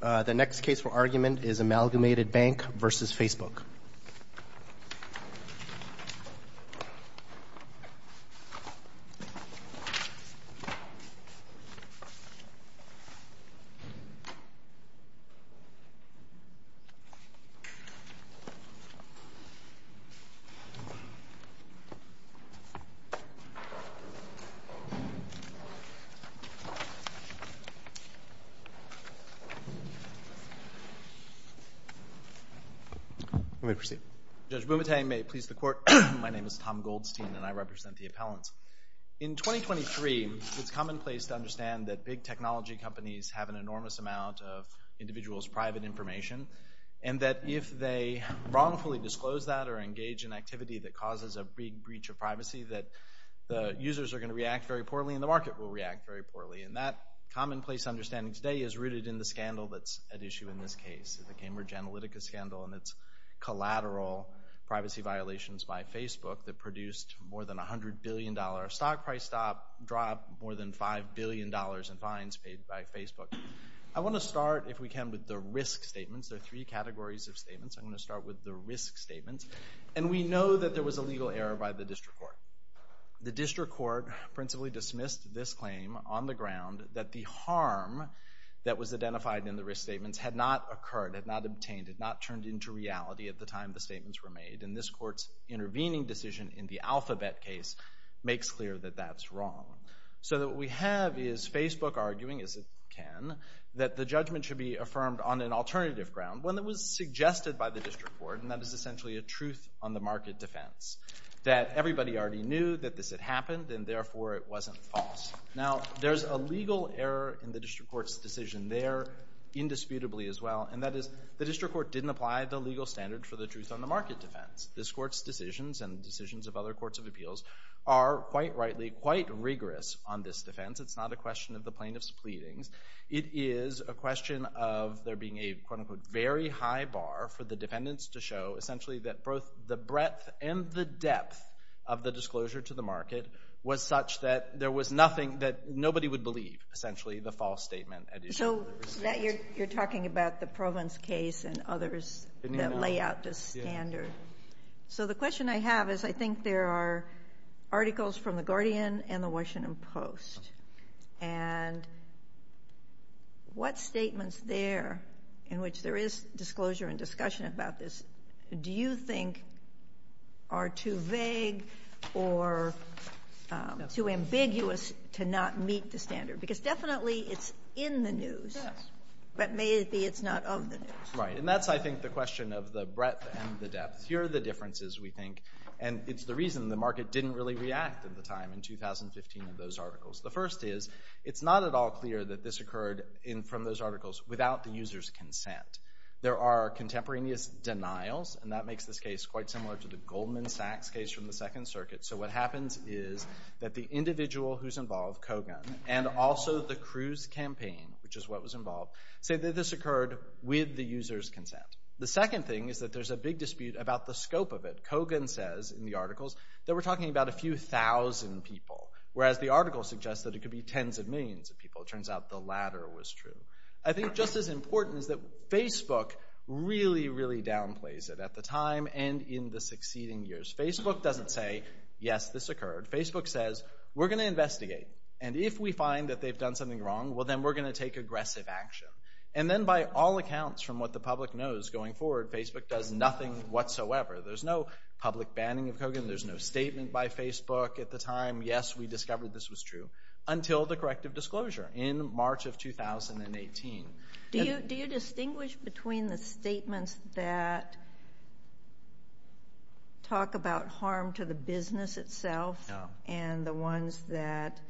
The next case for argument is Amalgamated Bank v. Facebook. Judge Bumate, may it please the Court. My name is Tom Goldstein and I represent the appellants. In 2023, it's commonplace to understand that big technology companies have an enormous amount of individuals' private information, and that if they wrongfully disclose that or engage in activity that causes a big breach of privacy, that the users are going to react very poorly and the market will react very poorly. And that commonplace understanding today is rooted in the scandal that's at issue in this case, the Cambridge Analytica scandal and its collateral privacy violations by Facebook that produced more than a $100 billion stock price drop, more than $5 billion in fines paid by Facebook. I want to start, if we can, with the risk statements. There are three categories of statements. I'm going to start with the risk statements. And we know that there was a legal error by the district court. The district court principally dismissed this claim on the ground that the harm that was identified in the risk statements had not occurred, had not obtained, had not turned into reality at the time the statements were made. And this court's intervening decision in the Alphabet case makes clear that that's wrong. So what we have is Facebook arguing, as it can, that the judgment should be affirmed on an alternative ground, one that was suggested by the district court, and that is essentially a truth-on-the-market defense, that everybody already knew that this had happened, and therefore it wasn't false. Now, there's a legal error in the district court's decision there, indisputably as well, and that is the district court didn't apply the legal standard for the truth-on-the-market defense. This court's decisions and the decisions of other courts of appeals are, quite rightly, quite rigorous on this defense. It's not a question of the plaintiff's pleadings. It is a question of there being a, quote-unquote, very high bar for the defendants to show, essentially, that both the breadth and the depth of the disclosure to the market was such that there was nothing that nobody would believe, essentially, the false statement. So you're talking about the Provence case and others that lay out this standard. So the question I have is I think there are articles from The Guardian and The Washington Post, and what statements there in which there is disclosure and discussion about this do you think are too vague or too ambiguous to not meet the standard? Because definitely it's in the news, but may it be it's not of the news. Right, and that's, I think, the question of the breadth and the depth. Here are the differences, we think, and it's the reason the market didn't really react at the time in 2015 to those articles. The first is it's not at all clear that this occurred from those articles without the user's consent. There are contemporaneous denials, and that makes this case quite similar to the Goldman Sachs case from the Second Circuit. So what happens is that the individual who's involved, Kogan, and also the Cruz campaign, which is what was involved, say that this occurred with the user's consent. The second thing is that there's a big dispute about the scope of it. They were talking about a few thousand people, whereas the article suggests that it could be tens of millions of people. It turns out the latter was true. I think just as important is that Facebook really, really downplays it at the time and in the succeeding years. Facebook doesn't say, yes, this occurred. Facebook says, we're going to investigate, and if we find that they've done something wrong, well, then we're going to take aggressive action. And then by all accounts, from what the public knows going forward, Facebook does nothing whatsoever. There's no public banning of Kogan. There's no statement by Facebook at the time, yes, we discovered this was true, until the corrective disclosure in March of 2018. Do you distinguish between the statements that talk about harm to the business itself and the ones that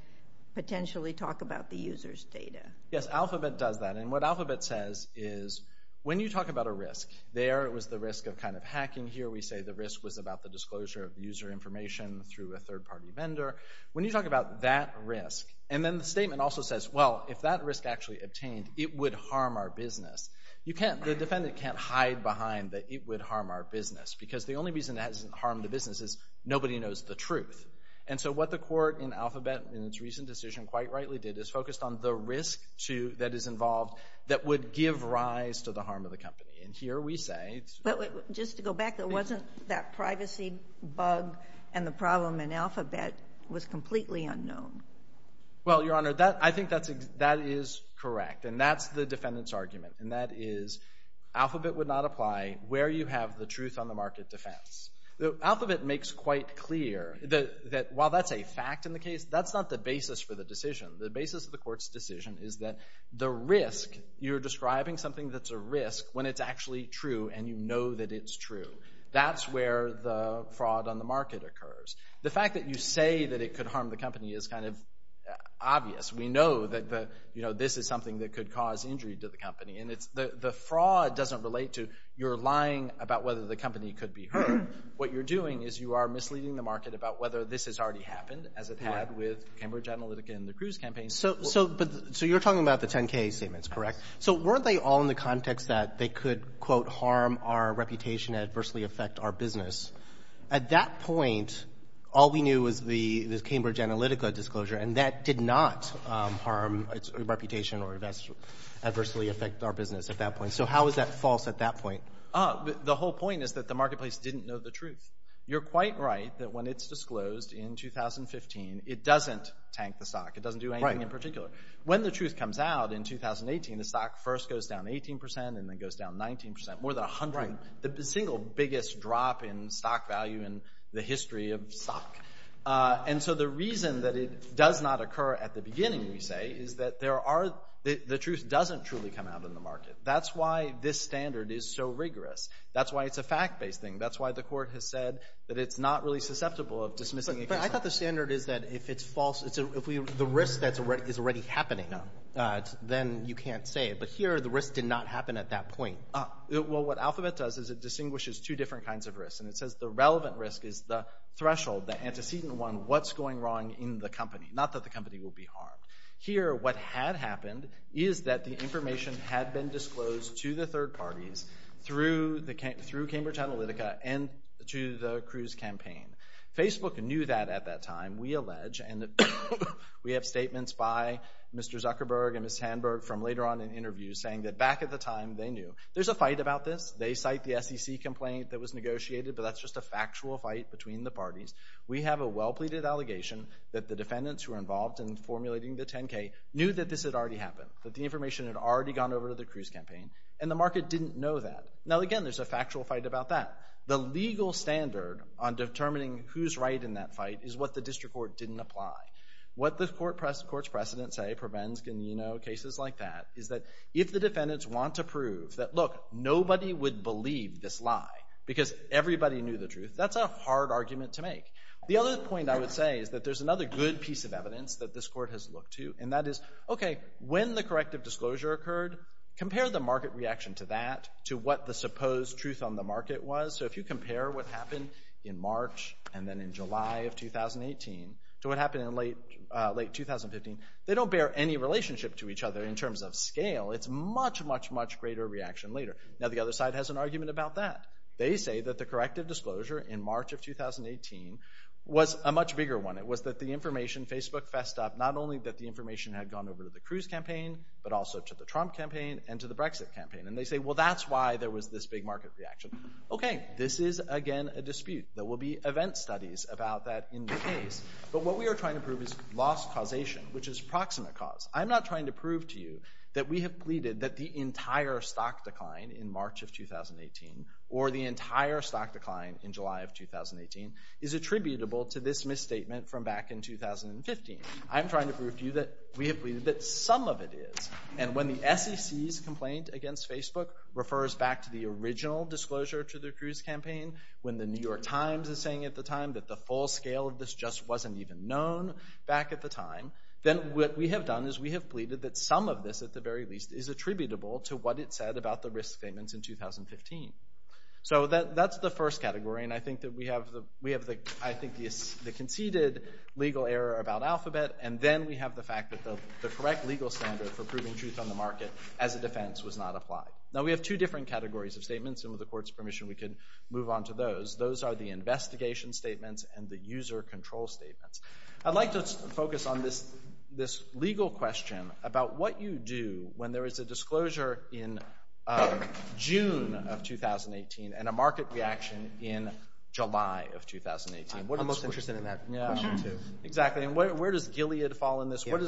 potentially talk about the user's data? Yes, Alphabet does that, and what Alphabet says is when you talk about a risk, there was the risk of kind of hacking here. We say the risk was about the disclosure of user information through a third-party vendor. When you talk about that risk, and then the statement also says, well, if that risk actually obtained, it would harm our business. The defendant can't hide behind that it would harm our business, because the only reason it hasn't harmed the business is nobody knows the truth. And so what the court in Alphabet in its recent decision quite rightly did is focused on the risk that is involved that would give rise to the harm of the company. And here we say— But just to go back, there wasn't that privacy bug, and the problem in Alphabet was completely unknown. Well, Your Honor, I think that is correct, and that's the defendant's argument, and that is Alphabet would not apply where you have the truth on the market defense. Alphabet makes quite clear that while that's a fact in the case, that's not the basis for the decision. The basis of the court's decision is that the risk, you're describing something that's a risk when it's actually true, and you know that it's true. That's where the fraud on the market occurs. The fact that you say that it could harm the company is kind of obvious. We know that this is something that could cause injury to the company, and the fraud doesn't relate to your lying about whether the company could be hurt. What you're doing is you are misleading the market about whether this has already happened, as it had with Cambridge Analytica and the Cruz campaign. So you're talking about the 10-K statements, correct? So weren't they all in the context that they could, quote, harm our reputation and adversely affect our business? At that point, all we knew was the Cambridge Analytica disclosure, and that did not harm its reputation or adversely affect our business at that point. So how is that false at that point? The whole point is that the marketplace didn't know the truth. You're quite right that when it's disclosed in 2015, it doesn't tank the stock. It doesn't do anything in particular. When the truth comes out in 2018, the stock first goes down 18 percent and then goes down 19 percent, more than 100, the single biggest drop in stock value in the history of stock. And so the reason that it does not occur at the beginning, we say, is that the truth doesn't truly come out in the market. That's why this standard is so rigorous. That's why it's a fact-based thing. That's why the court has said that it's not really susceptible of dismissing a case. But I thought the standard is that if it's false, if the risk is already happening, then you can't say it. But here the risk did not happen at that point. Well, what Alphabet does is it distinguishes two different kinds of risks, and it says the relevant risk is the threshold, the antecedent one, what's going wrong in the company, not that the company will be harmed. Here what had happened is that the information had been disclosed to the third parties through Cambridge Analytica and to the Cruz campaign. Facebook knew that at that time, we allege. And we have statements by Mr. Zuckerberg and Ms. Sandberg from later on in interviews saying that back at the time they knew. There's a fight about this. They cite the SEC complaint that was negotiated, but that's just a factual fight between the parties. We have a well-pleaded allegation that the defendants who were involved in formulating the 10-K knew that this had already happened, that the information had already gone over to the Cruz campaign, and the market didn't know that. Now, again, there's a factual fight about that. The legal standard on determining who's right in that fight is what the district court didn't apply. What the court's precedents say prevents cases like that is that if the defendants want to prove that, look, nobody would believe this lie because everybody knew the truth, that's a hard argument to make. The other point I would say is that there's another good piece of evidence that this court has looked to, and that is, okay, when the corrective disclosure occurred, compare the market reaction to that, to what the supposed truth on the market was. So if you compare what happened in March and then in July of 2018 to what happened in late 2015, they don't bear any relationship to each other in terms of scale. It's much, much, much greater reaction later. Now, the other side has an argument about that. They say that the corrective disclosure in March of 2018 was a much bigger one. It was that the information Facebook fessed up, not only that the information had gone over to the Cruz campaign, but also to the Trump campaign and to the Brexit campaign. And they say, well, that's why there was this big market reaction. Okay, this is, again, a dispute. There will be event studies about that in the case. But what we are trying to prove is lost causation, which is proximate cause. I'm not trying to prove to you that we have pleaded that the entire stock decline in March of 2018 or the entire stock decline in July of 2018 is attributable to this misstatement from back in 2015. I'm trying to prove to you that we have pleaded that some of it is. And when the SEC's complaint against Facebook refers back to the original disclosure to the Cruz campaign, when the New York Times is saying at the time that the full scale of this just wasn't even known back at the time, then what we have done is we have pleaded that some of this, at the very least, is attributable to what it said about the risk statements in 2015. So that's the first category. And I think that we have the conceded legal error about Alphabet. And then we have the fact that the correct legal standard for proving truth on the market as a defense was not applied. Now, we have two different categories of statements. And with the Court's permission, we can move on to those. Those are the investigation statements and the user control statements. I'd like to focus on this legal question about what you do when there is a disclosure in June of 2018 and a market reaction in July of 2018. I'm most interested in that question, too. Exactly. And where does Gilead fall in this? Where do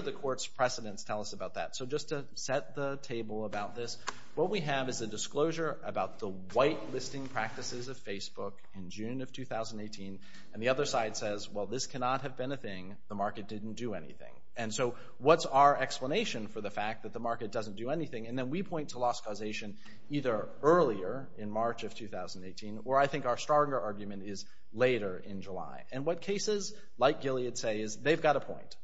the Court's precedents tell us about that? So just to set the table about this, what we have is a disclosure about the white listing practices of Facebook in June of 2018. And the other side says, well, this cannot have been a thing. The market didn't do anything. And so what's our explanation for the fact that the market doesn't do anything? And then we point to loss causation either earlier in March of 2018, or I think our stronger argument is later in July. And what cases like Gilead say is they've got a point.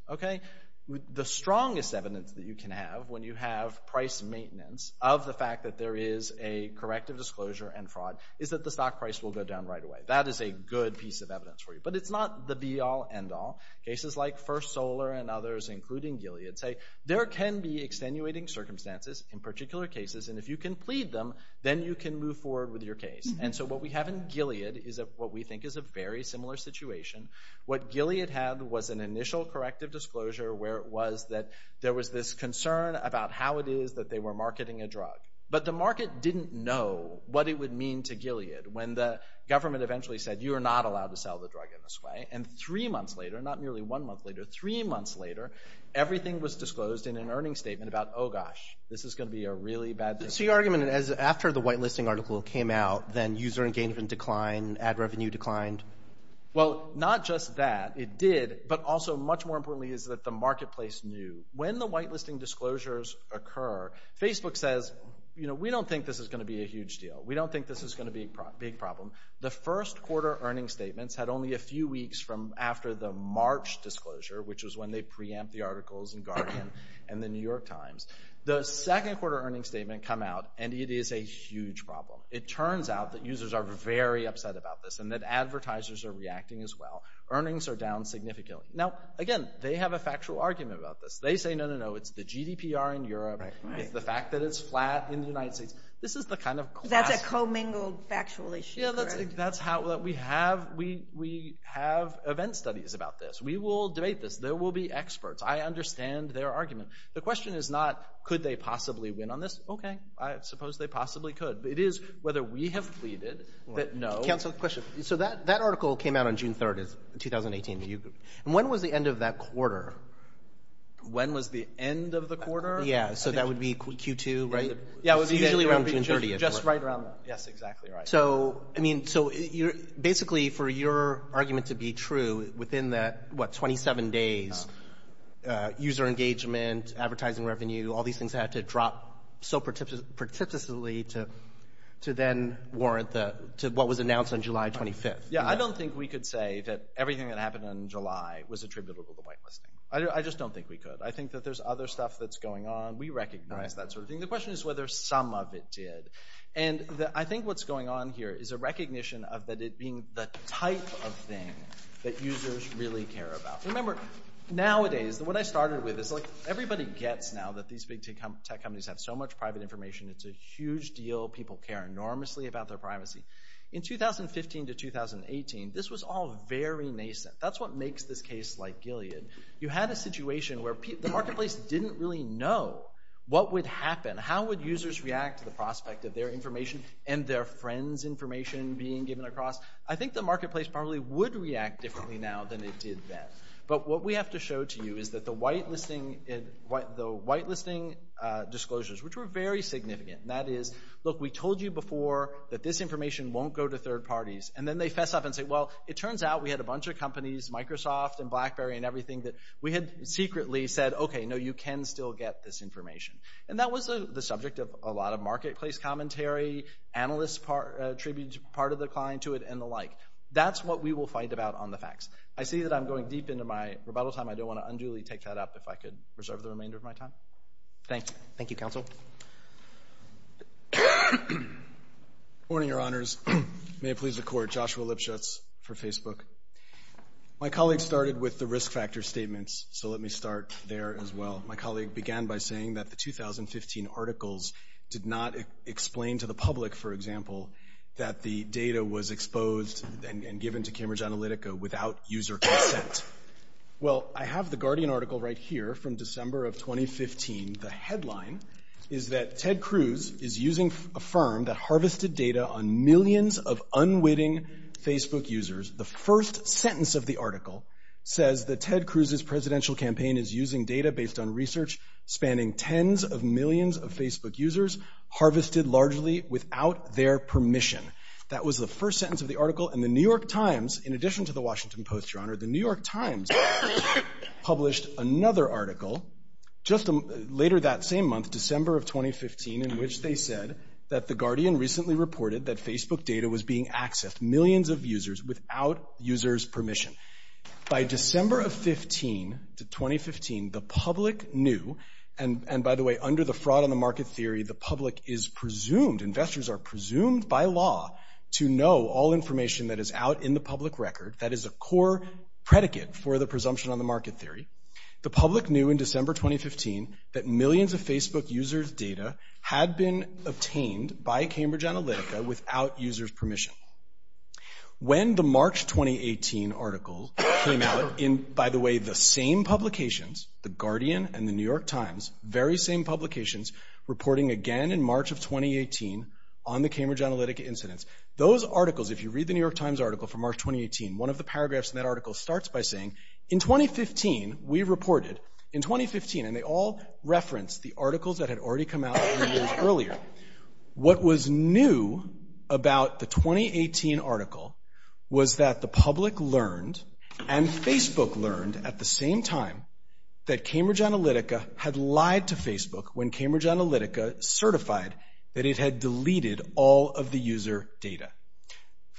The strongest evidence that you can have when you have price maintenance of the fact that there is a corrective disclosure and fraud is that the stock price will go down right away. That is a good piece of evidence for you. But it's not the be-all, end-all. Cases like First Solar and others, including Gilead, say there can be extenuating circumstances in particular cases. And if you can plead them, then you can move forward with your case. And so what we have in Gilead is what we think is a very similar situation. What Gilead had was an initial corrective disclosure where it was that there was this concern about how it is that they were marketing a drug. But the market didn't know what it would mean to Gilead when the government eventually said, you are not allowed to sell the drug in this way. And three months later, not nearly one month later, three months later, everything was disclosed in an earnings statement about, oh, gosh, this is going to be a really bad thing. So your argument is after the whitelisting article came out, then user engagement declined, ad revenue declined? Well, not just that. It did, but also much more importantly is that the marketplace knew. When the whitelisting disclosures occur, Facebook says, you know, we don't think this is going to be a huge deal. We don't think this is going to be a big problem. The first quarter earnings statements had only a few weeks from after the March disclosure, which is when they preempt the articles in Guardian and the New York Times. The second quarter earnings statement come out, and it is a huge problem. It turns out that users are very upset about this and that advertisers are reacting as well. Earnings are down significantly. Now, again, they have a factual argument about this. They say, no, no, no, it's the GDPR in Europe. It's the fact that it's flat in the United States. This is the kind of class— That's a co-mingled factual issue, correct? Yeah, that's how we have—we have event studies about this. We will debate this. There will be experts. I understand their argument. The question is not could they possibly win on this. Okay, I suppose they possibly could. It is whether we have pleaded that no. Counsel, question. So that article came out on June 3rd, 2018. When was the end of that quarter? When was the end of the quarter? Yeah, so that would be Q2, right? Yeah, it was usually around June 30th. Just right around that. Yes, exactly right. So basically for your argument to be true, within that, what, 27 days, user engagement, advertising revenue, all these things had to drop so precipitously to then warrant what was announced on July 25th. Yeah, I don't think we could say that everything that happened in July was attributable to whitelisting. I just don't think we could. I think that there's other stuff that's going on. We recognize that sort of thing. The question is whether some of it did. And I think what's going on here is a recognition of it being the type of thing that users really care about. Remember, nowadays, what I started with is like everybody gets now that these big tech companies have so much private information. It's a huge deal. People care enormously about their privacy. In 2015 to 2018, this was all very nascent. That's what makes this case like Gilead. You had a situation where the marketplace didn't really know what would happen. How would users react to the prospect of their information and their friends' information being given across? I think the marketplace probably would react differently now than it did then. But what we have to show to you is that the whitelisting disclosures, which were very significant, and that is, look, we told you before that this information won't go to third parties. And then they fess up and say, well, it turns out we had a bunch of companies, Microsoft and BlackBerry and everything, that we had secretly said, okay, no, you can still get this information. And that was the subject of a lot of marketplace commentary, analysts attributed part of their client to it and the like. That's what we will fight about on the facts. I see that I'm going deep into my rebuttal time. I don't want to unduly take that up if I could reserve the remainder of my time. Thank you. Thank you, Counsel. Good morning, Your Honors. May it please the Court. Joshua Lipschutz for Facebook. My colleague started with the risk factor statements, so let me start there as well. My colleague began by saying that the 2015 articles did not explain to the public, for example, that the data was exposed and given to Cambridge Analytica without user consent. Well, I have the Guardian article right here from December of 2015. The headline is that Ted Cruz is using a firm that harvested data on millions of unwitting Facebook users. The first sentence of the article says that Ted Cruz's presidential campaign is using data based on research spanning tens of millions of Facebook users harvested largely without their permission. That was the first sentence of the article. And the New York Times, in addition to the Washington Post, Your Honor, the New York Times published another article just later that same month, December of 2015, in which they said that the Guardian recently reported that Facebook data was being accessed, millions of users, without users' permission. By December of 2015, the public knew, and by the way, under the fraud on the market theory, the public is presumed, investors are presumed by law to know all information that is out in the public record. That is a core predicate for the presumption on the market theory. The public knew in December 2015 that millions of Facebook users' data had been obtained by Cambridge Analytica without users' permission. When the March 2018 article came out, in, by the way, the same publications, the Guardian and the New York Times, very same publications, reporting again in March of 2018 on the Cambridge Analytica incidents, those articles, if you read the New York Times article from March 2018, one of the paragraphs in that article starts by saying, in 2015, we reported, in 2015, and they all reference the articles that had already come out three years earlier, what was new about the 2018 article was that the public learned and Facebook learned at the same time that Cambridge Analytica had lied to Facebook when Cambridge Analytica certified that it had deleted all of the user data.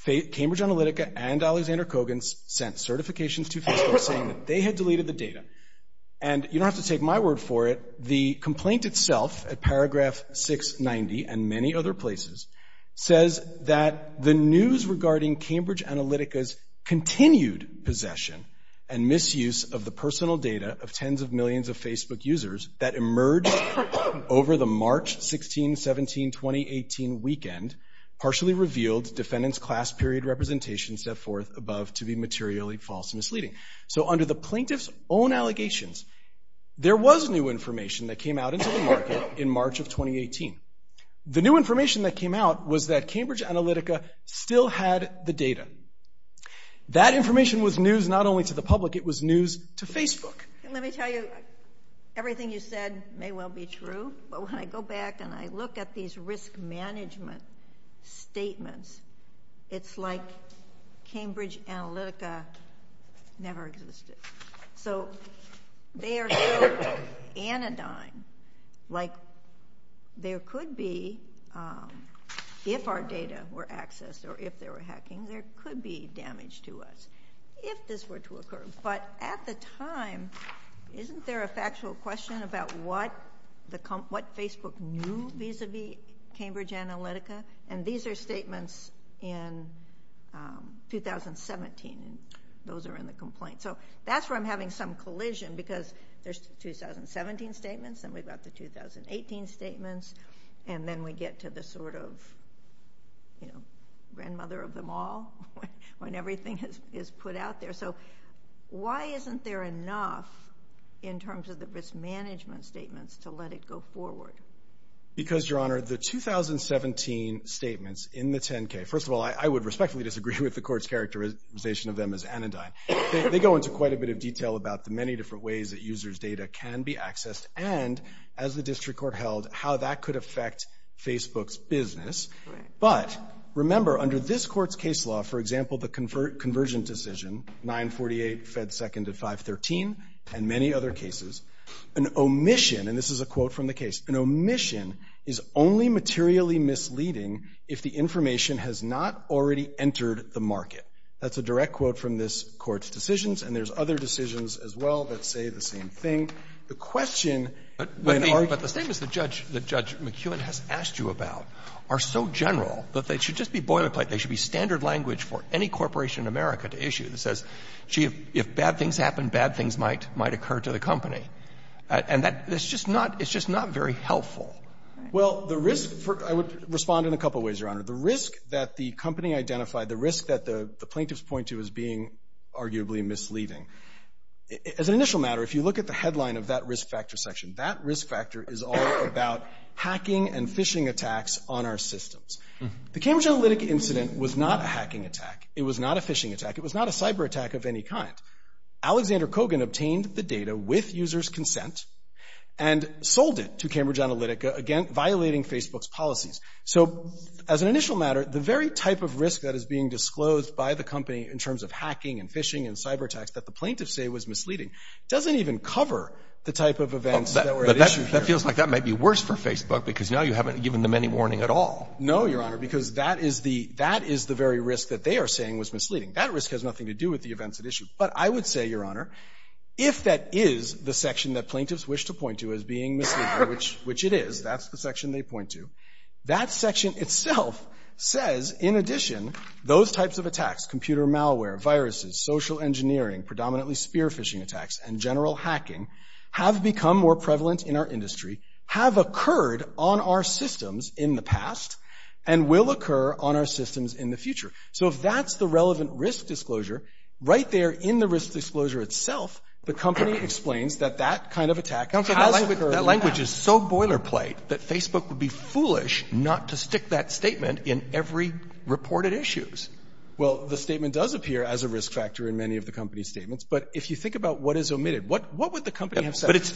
Cambridge Analytica and Alexander Coggins sent certifications to Facebook saying that they had deleted the data, and you don't have to take my word for it, but the complaint itself, at paragraph 690 and many other places, says that the news regarding Cambridge Analytica's continued possession and misuse of the personal data of tens of millions of Facebook users that emerged over the March 16, 17, 2018 weekend partially revealed defendant's class period representation set forth above to be materially false and misleading. So under the plaintiff's own allegations, there was new information that came out into the market in March of 2018. The new information that came out was that Cambridge Analytica still had the data. That information was news not only to the public, it was news to Facebook. Let me tell you, everything you said may well be true, but when I go back and I look at these risk management statements, it's like Cambridge Analytica never existed. So they are so anodyne, like there could be, if our data were accessed or if they were hacking, there could be damage to us if this were to occur. But at the time, isn't there a factual question about what Facebook knew vis-à-vis Cambridge Analytica? And these are statements in 2017. Those are in the complaint. So that's where I'm having some collision because there's the 2017 statements and we've got the 2018 statements, and then we get to the sort of grandmother of them all when everything is put out there. So why isn't there enough in terms of the risk management statements to let it go forward? Because, Your Honor, the 2017 statements in the 10-K, first of all, I would respectfully disagree with the court's characterization of them as anodyne. They go into quite a bit of detail about the many different ways that users' data can be accessed and, as the district court held, how that could affect Facebook's business. But remember, under this court's case law, for example, the convergent decision, 948 fed 2nd to 513 and many other cases, an omission, and this is a quote from the case, an omission is only materially misleading if the information has not already entered the market. That's a direct quote from this court's decisions, and there's other decisions as well that say the same thing. The question when our... But the statements that Judge McEwen has asked you about are so general that they should just be boilerplate. They should be standard language for any corporation in America to issue. It says, gee, if bad things happen, bad things might occur to the company. And that's just not very helpful. Well, the risk for... I would respond in a couple of ways, Your Honor. The risk that the company identified, the risk that the plaintiffs point to as being arguably misleading, as an initial matter, if you look at the headline of that risk factor section, that risk factor is all about hacking and phishing attacks on our systems. The Cambridge Analytic incident was not a hacking attack. It was not a phishing attack. It was not a cyber attack of any kind. Alexander Kogan obtained the data with users' consent and sold it to Cambridge Analytica, again, violating Facebook's policies. So, as an initial matter, the very type of risk that is being disclosed by the company in terms of hacking and phishing and cyber attacks that the plaintiffs say was misleading doesn't even cover the type of events that were at issue here. But that feels like that might be worse for Facebook because now you haven't given them any warning at all. No, Your Honor, because that is the very risk that they are saying was misleading. That risk has nothing to do with the events at issue. But I would say, Your Honor, if that is the section that plaintiffs wish to point to as being misleading, which it is, that's the section they point to, that section itself says, in addition, those types of attacks, computer malware, viruses, social engineering, predominantly spear-phishing attacks, and general hacking have become more prevalent in our industry, have occurred on our systems in the past, and will occur on our systems in the future. So if that's the relevant risk disclosure, right there in the risk disclosure itself, the company explains that that kind of attack has occurred now. Counsel, that language is so boilerplate that Facebook would be foolish not to stick that statement in every reported issue. Well, the statement does appear as a risk factor in many of the company's statements, but if you think about what is omitted, what would the company have said? But it's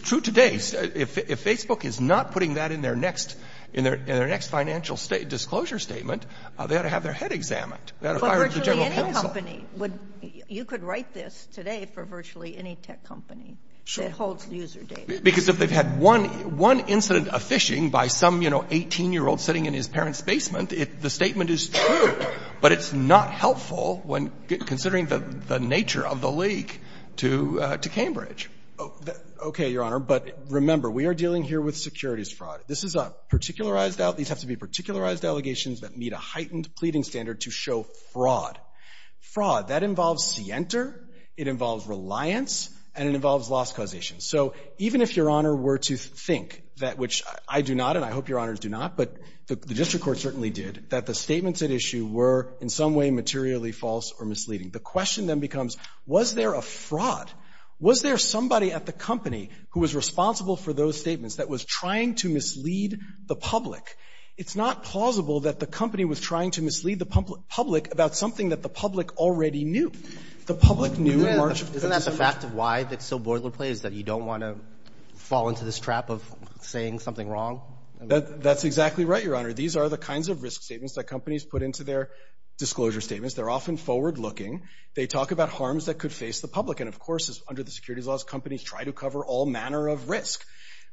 true today. If Facebook is not putting that in their next financial disclosure statement, they ought to have their head examined. They ought to fire the general counsel. But virtually any company would, you could write this today for virtually any tech company. Sure. That holds user data. Because if they've had one incident of phishing by some, you know, 18-year-old sitting in his parents' basement, the statement is true, but it's not helpful when considering the nature of the leak to Cambridge. Okay, Your Honor, but remember, we are dealing here with securities fraud. This is a particularized, these have to be particularized allegations that meet a heightened pleading standard to show fraud. Fraud, that involves scienter, it involves reliance, and it involves loss causation. So even if Your Honor were to think that which I do not, and I hope Your Honors do not, but the district court certainly did, that the statements at issue were in some way materially false or misleading, the question then becomes, was there a fraud? Was there somebody at the company who was responsible for those statements that was trying to mislead the public? It's not plausible that the company was trying to mislead the public about something that the public already knew. The public knew in March of 2017. Isn't that the fact of why it's so boilerplate, is that you don't want to fall into this trap of saying something wrong? That's exactly right, Your Honor. These are the kinds of risk statements that companies put into their disclosure statements. They're often forward-looking. They talk about harms that could face the public. And, of course, under the securities laws, companies try to cover all manner of risk.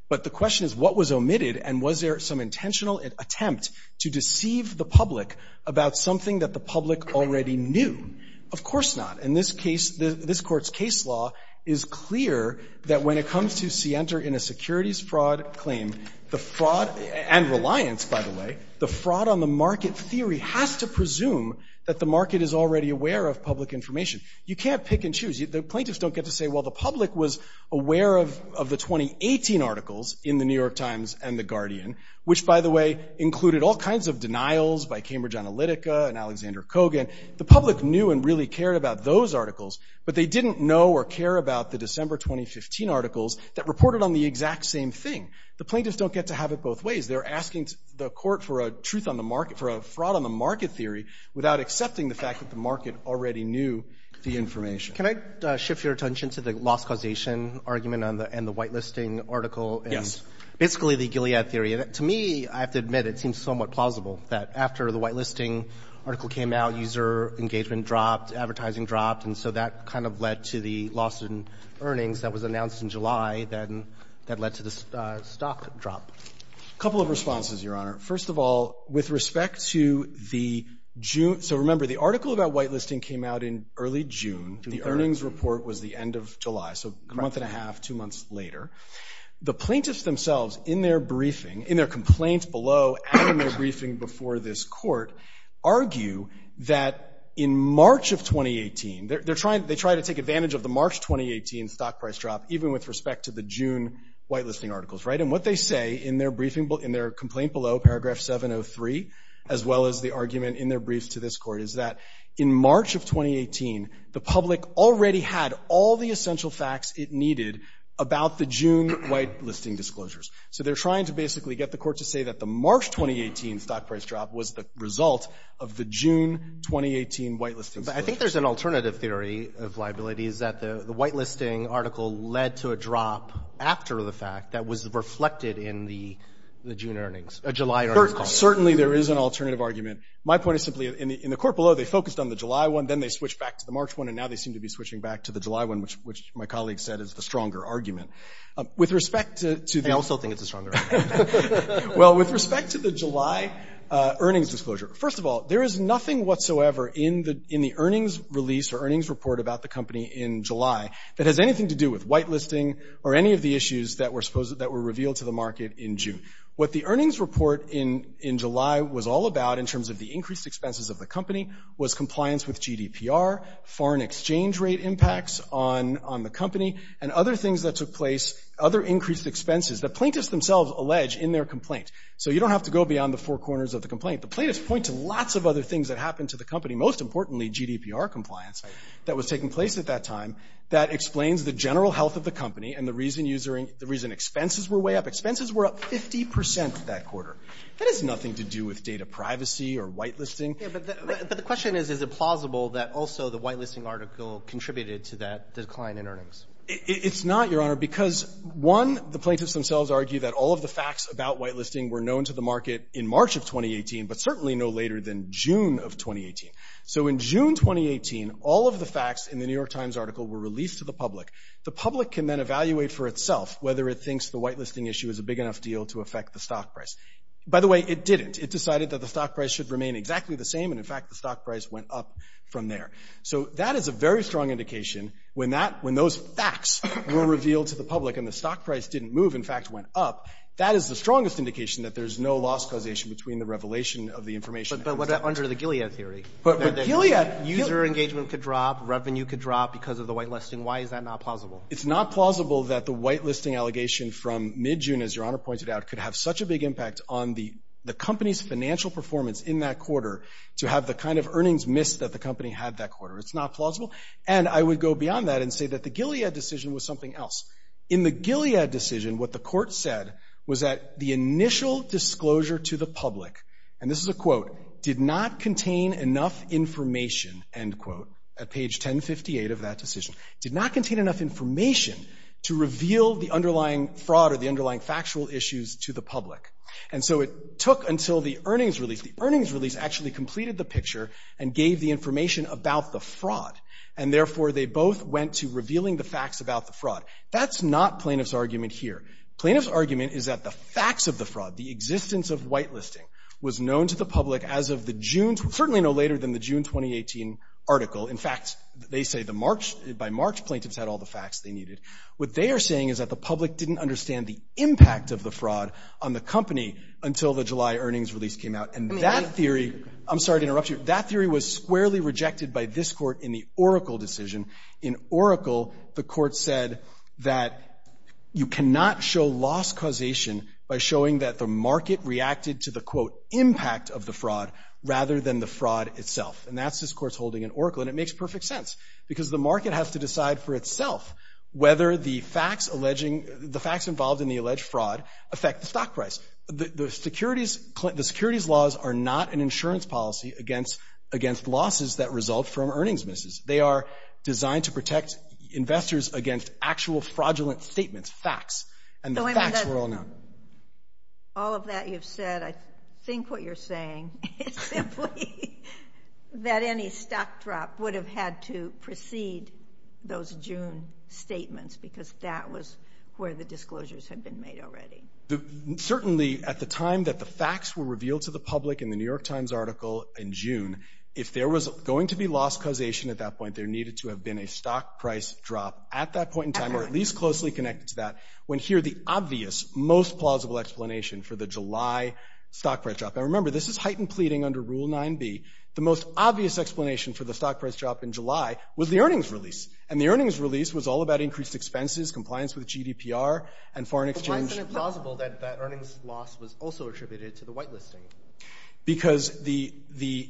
But the question is, what was omitted, and was there some intentional attempt to deceive the public about something that the public already knew? Of course not. In this case, this Court's case law is clear that when it comes to scienter in a securities fraud claim, the fraud and reliance, by the way, the fraud on the market theory has to presume that the market is already aware of public information. You can't pick and choose. The plaintiffs don't get to say, well, the public was aware of the 2018 articles in The New York Times and The Guardian, which, by the way, included all kinds of denials by Cambridge Analytica and Alexander Kogan. The public knew and really cared about those articles, but they didn't know or care about the December 2015 articles that reported on the exact same thing. The plaintiffs don't get to have it both ways. They're asking the Court for a fraud on the market theory without accepting the fact that the market already knew the information. Can I shift your attention to the loss causation argument and the whitelisting article? Yes. Basically the Gilead theory. To me, I have to admit, it seems somewhat plausible that after the whitelisting article came out, user engagement dropped, advertising dropped, and so that kind of led to the loss in earnings that was announced in July that led to the stock drop. A couple of responses, Your Honor. First of all, with respect to the June – so remember, the article about whitelisting came out in early June. The earnings report was the end of July, so a month and a half, two months later. The plaintiffs themselves, in their briefing, in their complaint below and in their briefing before this Court, argue that in March of 2018 – they try to take advantage of the March 2018 stock price drop even with respect to the June whitelisting articles, right? And what they say in their complaint below, paragraph 703, as well as the argument in their briefs to this Court, is that in March of 2018, the public already had all the essential facts it needed about the June whitelisting disclosures. So they're trying to basically get the Court to say that the March 2018 stock price drop was the result of the June 2018 whitelisting disclosures. But I think there's an alternative theory of liabilities, that the whitelisting article led to a drop after the fact that was reflected in the June earnings – July earnings call. Certainly, there is an alternative argument. My point is simply, in the Court below, they focused on the July one, then they switched back to the March one, and now they seem to be switching back to the July one, which my colleague said is the stronger argument. With respect to the – I also think it's a stronger argument. Well, with respect to the July earnings disclosure, first of all, there is nothing whatsoever in the earnings release or earnings report about the company in July that has anything to do with whitelisting or any of the issues that were revealed to the market in June. What the earnings report in July was all about in terms of the increased expenses of the company was compliance with GDPR, foreign exchange rate impacts on the company, and other things that took place, other increased expenses that plaintiffs themselves allege in their complaint. So you don't have to go beyond the four corners of the complaint. The plaintiffs point to lots of other things that happened to the company, most importantly GDPR compliance that was taking place at that time that explains the general health of the company and the reason users – the reason expenses were way up. Expenses were up 50 percent that quarter. That has nothing to do with data privacy or whitelisting. But the question is, is it plausible that also the whitelisting article contributed to that decline in earnings? It's not, Your Honor, because one, the plaintiffs themselves argue that all of the facts about whitelisting were known to the market in March of 2018, but certainly no later than June of 2018. So in June 2018, all of the facts in the New York Times article were released to the public. The public can then evaluate for itself whether it thinks the whitelisting issue is a big enough deal to affect the stock price. By the way, it didn't. It decided that the stock price should remain exactly the same and in fact the stock price went up from there. So that is a very strong indication when those facts were revealed to the public and the stock price didn't move, in fact went up, that is the strongest indication that there's no loss causation between the revelation of the information. But what about under the Gilead theory? But Gilead – User engagement could drop, revenue could drop because of the whitelisting. Why is that not plausible? It's not plausible that the whitelisting allegation from mid-June, as Your Honor pointed out, could have such a big impact on the company's financial performance in that quarter to have the kind of earnings missed that the company had that quarter. It's not plausible. And I would go beyond that and say that the Gilead decision was something else. In the Gilead decision, what the court said was that the initial disclosure to the public, and this is a quote, did not contain enough information, end quote, at page 1058 of that decision. Did not contain enough information to reveal the underlying fraud or the underlying factual issues to the public. And so it took until the earnings release. The earnings release actually completed the picture and gave the information about the fraud. And therefore, they both went to revealing the facts about the fraud. That's not plaintiff's argument here. Plaintiff's argument is that the facts of the fraud, the existence of whitelisting, was known to the public as of the June – certainly no later than the June 2018 article. In fact, they say the March – by March, plaintiffs had all the facts they needed. What they are saying is that the public didn't understand the impact of the fraud on the company until the July earnings release came out. And that theory – I'm sorry to interrupt you. That theory was squarely rejected by this court in the Oracle decision. In Oracle, the court said that you cannot show loss causation by showing that the market reacted to the, quote, impact of the fraud rather than the fraud itself. And that's this court's holding in Oracle. And it makes perfect sense because the market has to decide for itself whether the facts alleging – the facts involved in the alleged fraud affect the stock price. The securities – the securities laws are not an insurance policy against losses that result from earnings misses. They are designed to protect investors against actual fraudulent statements, facts. And the facts were all known. All of that you've said, I think what you're saying is simply that any stock drop would have had to precede those June statements because that was where the disclosures had been made already. Certainly at the time that the facts were revealed to the public in the New York Times article in June, if there was going to be loss causation at that point, there needed to have been a stock price drop at that point in time or at least closely connected to that when here the obvious, most plausible explanation for the July stock price drop – now remember, this is heightened pleading under Rule 9b. The most obvious explanation for the stock price drop in July was the earnings release. And the earnings release was all about increased expenses, compliance with GDPR, and foreign exchange – But why isn't it plausible that that earnings loss was also attributed to the whitelisting? Because the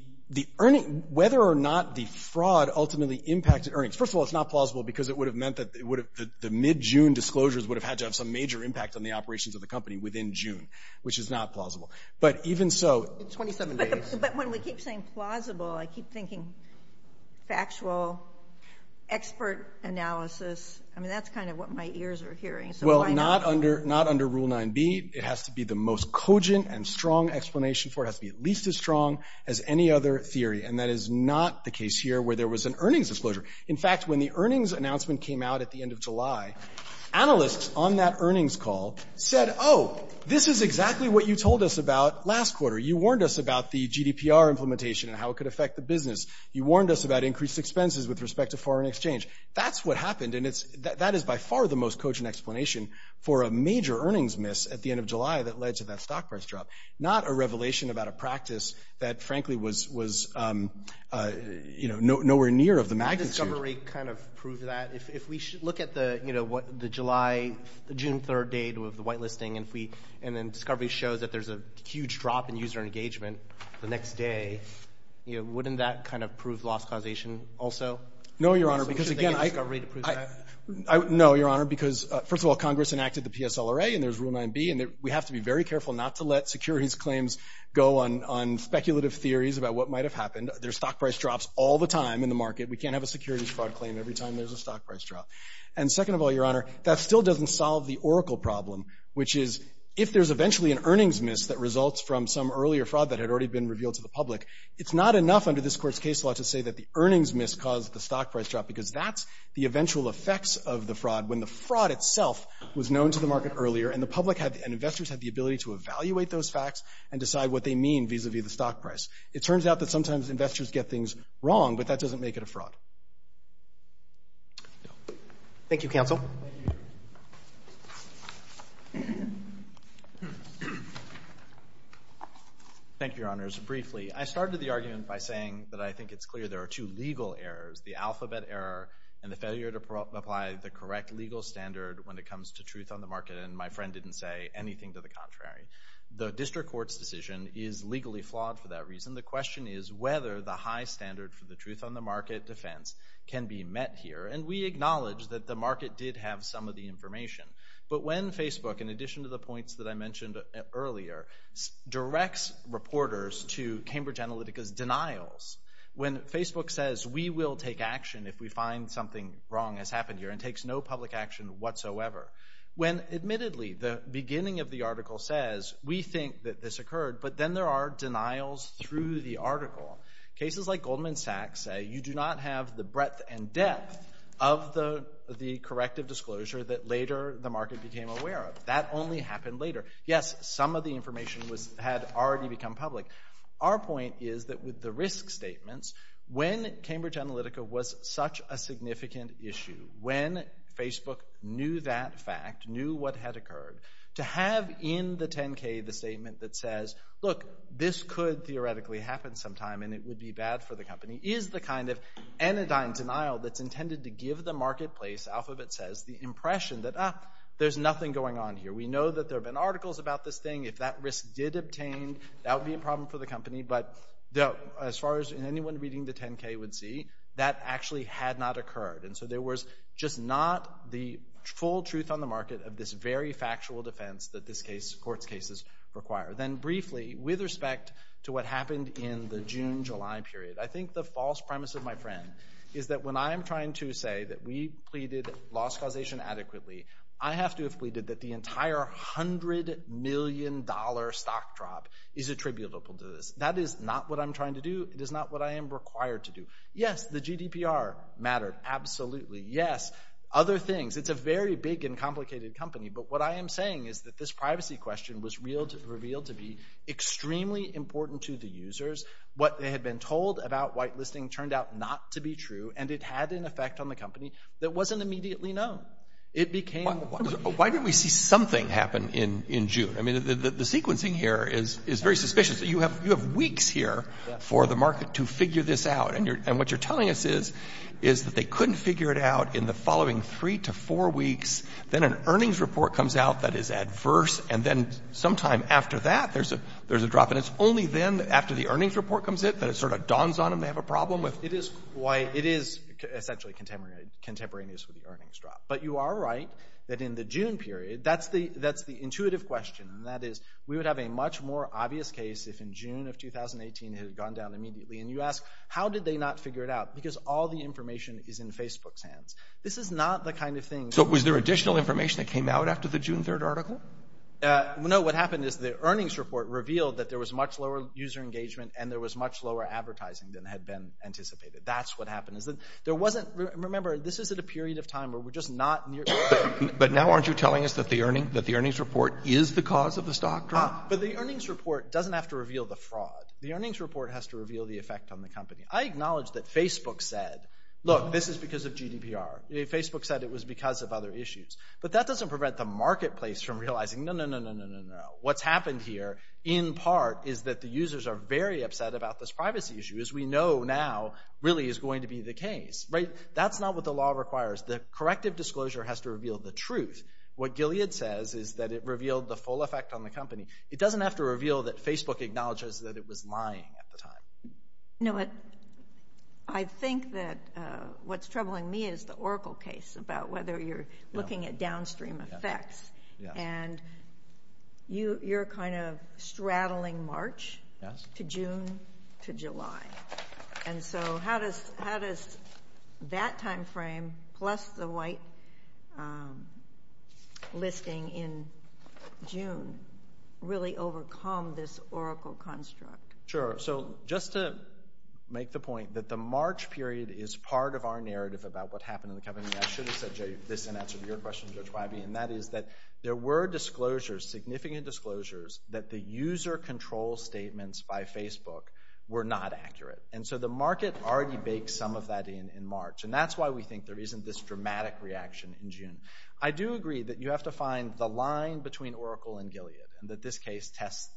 earnings – whether or not the fraud ultimately impacted earnings – first of all, it's not plausible because it would have meant that the mid-June disclosures would have had to have some major impact on the operations of the company within June, which is not plausible. But even so – In 27 days. But when we keep saying plausible, I keep thinking factual, expert analysis. I mean, that's kind of what my ears are hearing. Well, not under Rule 9b. It has to be the most cogent and strong explanation for it. It has to be at least as strong as any other theory. And that is not the case here where there was an earnings disclosure. In fact, when the earnings announcement came out at the end of July, analysts on that earnings call said, Oh, this is exactly what you told us about last quarter. You warned us about the GDPR implementation and how it could affect the business. You warned us about increased expenses with respect to foreign exchange. That's what happened, and that is by far the most cogent explanation for a major earnings miss at the end of July that led to that stock price drop. Not a revelation about a practice that frankly was nowhere near of the magnitude. Can the discovery kind of prove that? If we look at the July – the June 3rd date with the white listing and if we – and then discovery shows that there's a huge drop in user engagement the next day, wouldn't that kind of prove loss causation also? No, Your Honor, because again, I – So should they get discovery to prove that? No, Your Honor, because first of all, Congress enacted the PSLRA and there's Rule 9b and we have to be very careful not to let securities claims go on speculative theories about what might have happened. There's stock price drops all the time in the market. We can't have a securities fraud claim every time there's a stock price drop. And second of all, Your Honor, that still doesn't solve the oracle problem, which is, if there's eventually an earnings miss that results from some earlier fraud that had already been revealed to the public, it's not enough under this Court's case law to say that the earnings miss caused the stock price drop because that's the eventual effects of the fraud when the fraud itself was known to the market earlier and the public had – and investors had the ability to evaluate those facts and decide what they mean vis-a-vis the stock price. It turns out that sometimes investors get things wrong, but that doesn't make it a fraud. Thank you, counsel. Thank you, Your Honor. Thank you, Your Honors. Briefly, I started the argument by saying that I think it's clear there are two legal errors, the alphabet error and the failure to apply the correct legal standard when it comes to truth on the market, and my friend didn't say anything to the contrary. The district court's decision is legally flawed for that reason. The question is whether the high standard for the truth on the market defense can be met here, and we acknowledge that the market did have some of the information. But when Facebook, in addition to the points that I mentioned earlier, directs reporters to Cambridge Analytica's denials, when Facebook says, we will take action if we find something wrong has happened here and takes no public action whatsoever, when admittedly the beginning of the article says, we think that this occurred, but then there are denials through the article. Cases like Goldman Sachs say you do not have the breadth and depth of the corrective disclosure that later the market became aware of. That only happened later. Yes, some of the information had already become public. Our point is that with the risk statements, when Cambridge Analytica was such a significant issue, when Facebook knew that fact, knew what had occurred, to have in the 10-K the statement that says, look, this could theoretically happen sometime and it would be bad for the company, is the kind of anodyne denial that's intended to give the marketplace, Alphabet says, the impression that, ah, there's nothing going on here. We know that there have been articles about this thing. If that risk did obtain, that would be a problem for the company, but as far as anyone reading the 10-K would see, that actually had not occurred. And so there was just not the full truth on the market of this very factual defense that this case, court's cases require. Then briefly, with respect to what happened in the June-July period, I think the false premise of my friend is that when I'm trying to say that we pleaded loss causation adequately, I have to have pleaded that the entire hundred million dollar stock drop is attributable to this. That is not what I'm trying to do. It is not what I am required to do. Yes, the GDPR mattered, absolutely. Yes, other things. It's a very big and complicated company, but what I am saying is that this privacy question was revealed to be extremely important to the users. What they had been told about whitelisting turned out not to be true, and it had an effect on the company that wasn't immediately known. It became... Why didn't we see something happen in June? I mean, the sequencing here is very suspicious. You have weeks here for the market to figure this out, and what you're telling us is that they couldn't figure it out in the following three to four weeks, then an earnings report comes out that is adverse, and then sometime after that, there's a drop, and it's only then after the earnings report comes in that it sort of dawns on them that they have a problem with... It is quite... It is essentially contemporaneous with the earnings drop, but you are right that in the June period, that's the intuitive question, and that is we would have a much more obvious case if in June of 2018 it had gone down immediately, and you ask, how did they not figure it out? Because all the information is in Facebook's hands. This is not the kind of thing... So was there additional information that came out after the June 3rd article? No, what happened is the earnings report revealed that there was much lower user engagement and there was much lower advertising than had been anticipated. That's what happened. There wasn't... Remember, this is at a period of time where we're just not... But now aren't you telling us that the earnings report is the cause of the stock drop? But the earnings report doesn't have to reveal the fraud. The earnings report has to reveal the effect on the company. I acknowledge that Facebook said, look, this is because of GDPR. Facebook said it was because of other issues, but that doesn't prevent the marketplace from realizing, no, no, no, no, no, no. What's happened here, in part, is that the users are very upset about this privacy issue as we know now really is going to be the case, right? That's not what the law requires. The corrective disclosure has to reveal the truth. What Gilead says is that it revealed the full effect on the company. It doesn't have to reveal that Facebook acknowledges that it was lying at the time. No, I think that what's troubling me is the Oracle case about whether you're looking at downstream effects and you're kind of going from March to June to July. And so, how does that time frame plus the white listing in June really overcome this Oracle construct? Sure. So, just to make the point that the March period is part of our narrative about what happened in the company, I should have said, this in answer to your question, Judge Wybie, and that is that there were disclosures, significant disclosures, that the user controls the user and the user controls the user. And the Oracle statements by Facebook were not accurate. And so, the market already baked some of that in March. And that's why we think there isn't this dramatic reaction in June. I do agree that you have to find the line between Oracle and Gilead and that this case tests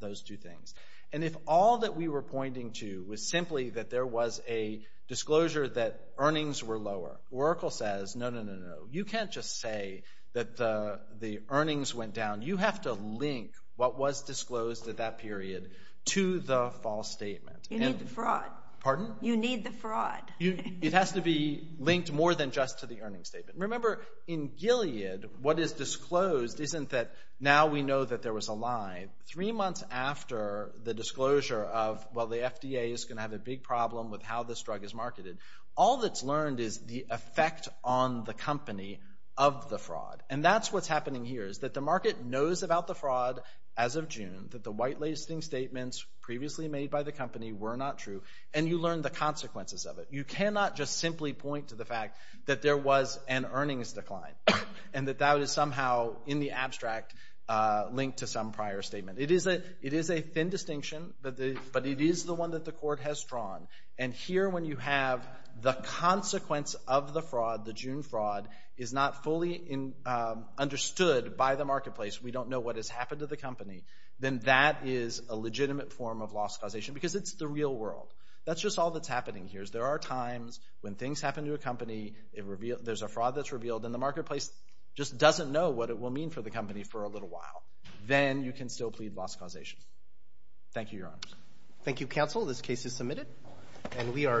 those two things. And if all that we were pointing to was simply that there was a disclosure that earnings were lower, Oracle says, no, no, no, no, you can't just say that the earnings went down. You have to link what was disclosed at that period to the false statement. You need the fraud. Pardon? You need the fraud. It has to be linked more than just to the earnings statement. Remember, in Gilead, what is disclosed isn't that now we know that there was a lie. Three months after of, well, the FDA is going to have a big problem with how this drug is marketed, all that's learned is the effect on the company of the fraud. And that's what's happening here is that the market knows about the fraud as of June, that the white-lacing statements previously made by the company were not true, and you learn the consequences of it. You cannot just simply point to the fact that there was an earnings decline and that that is somehow in the abstract linked to some prior statement. It is a, it is a thin distinction, but it is the one that the court has drawn. And here, when you have the consequence of the fraud, the June fraud, is not fully understood by the marketplace, we don't know what has happened to the company, then that is a legitimate form of loss causation because it's the real world. That's just all that's happening here is there are times when things happen to a company, there's a fraud that's revealed, and the marketplace just doesn't know what it will mean for the company for a little while. Then you can still plead loss causation. Thank you, Your Honors. Thank you, Counsel. This case is submitted and we are adjourned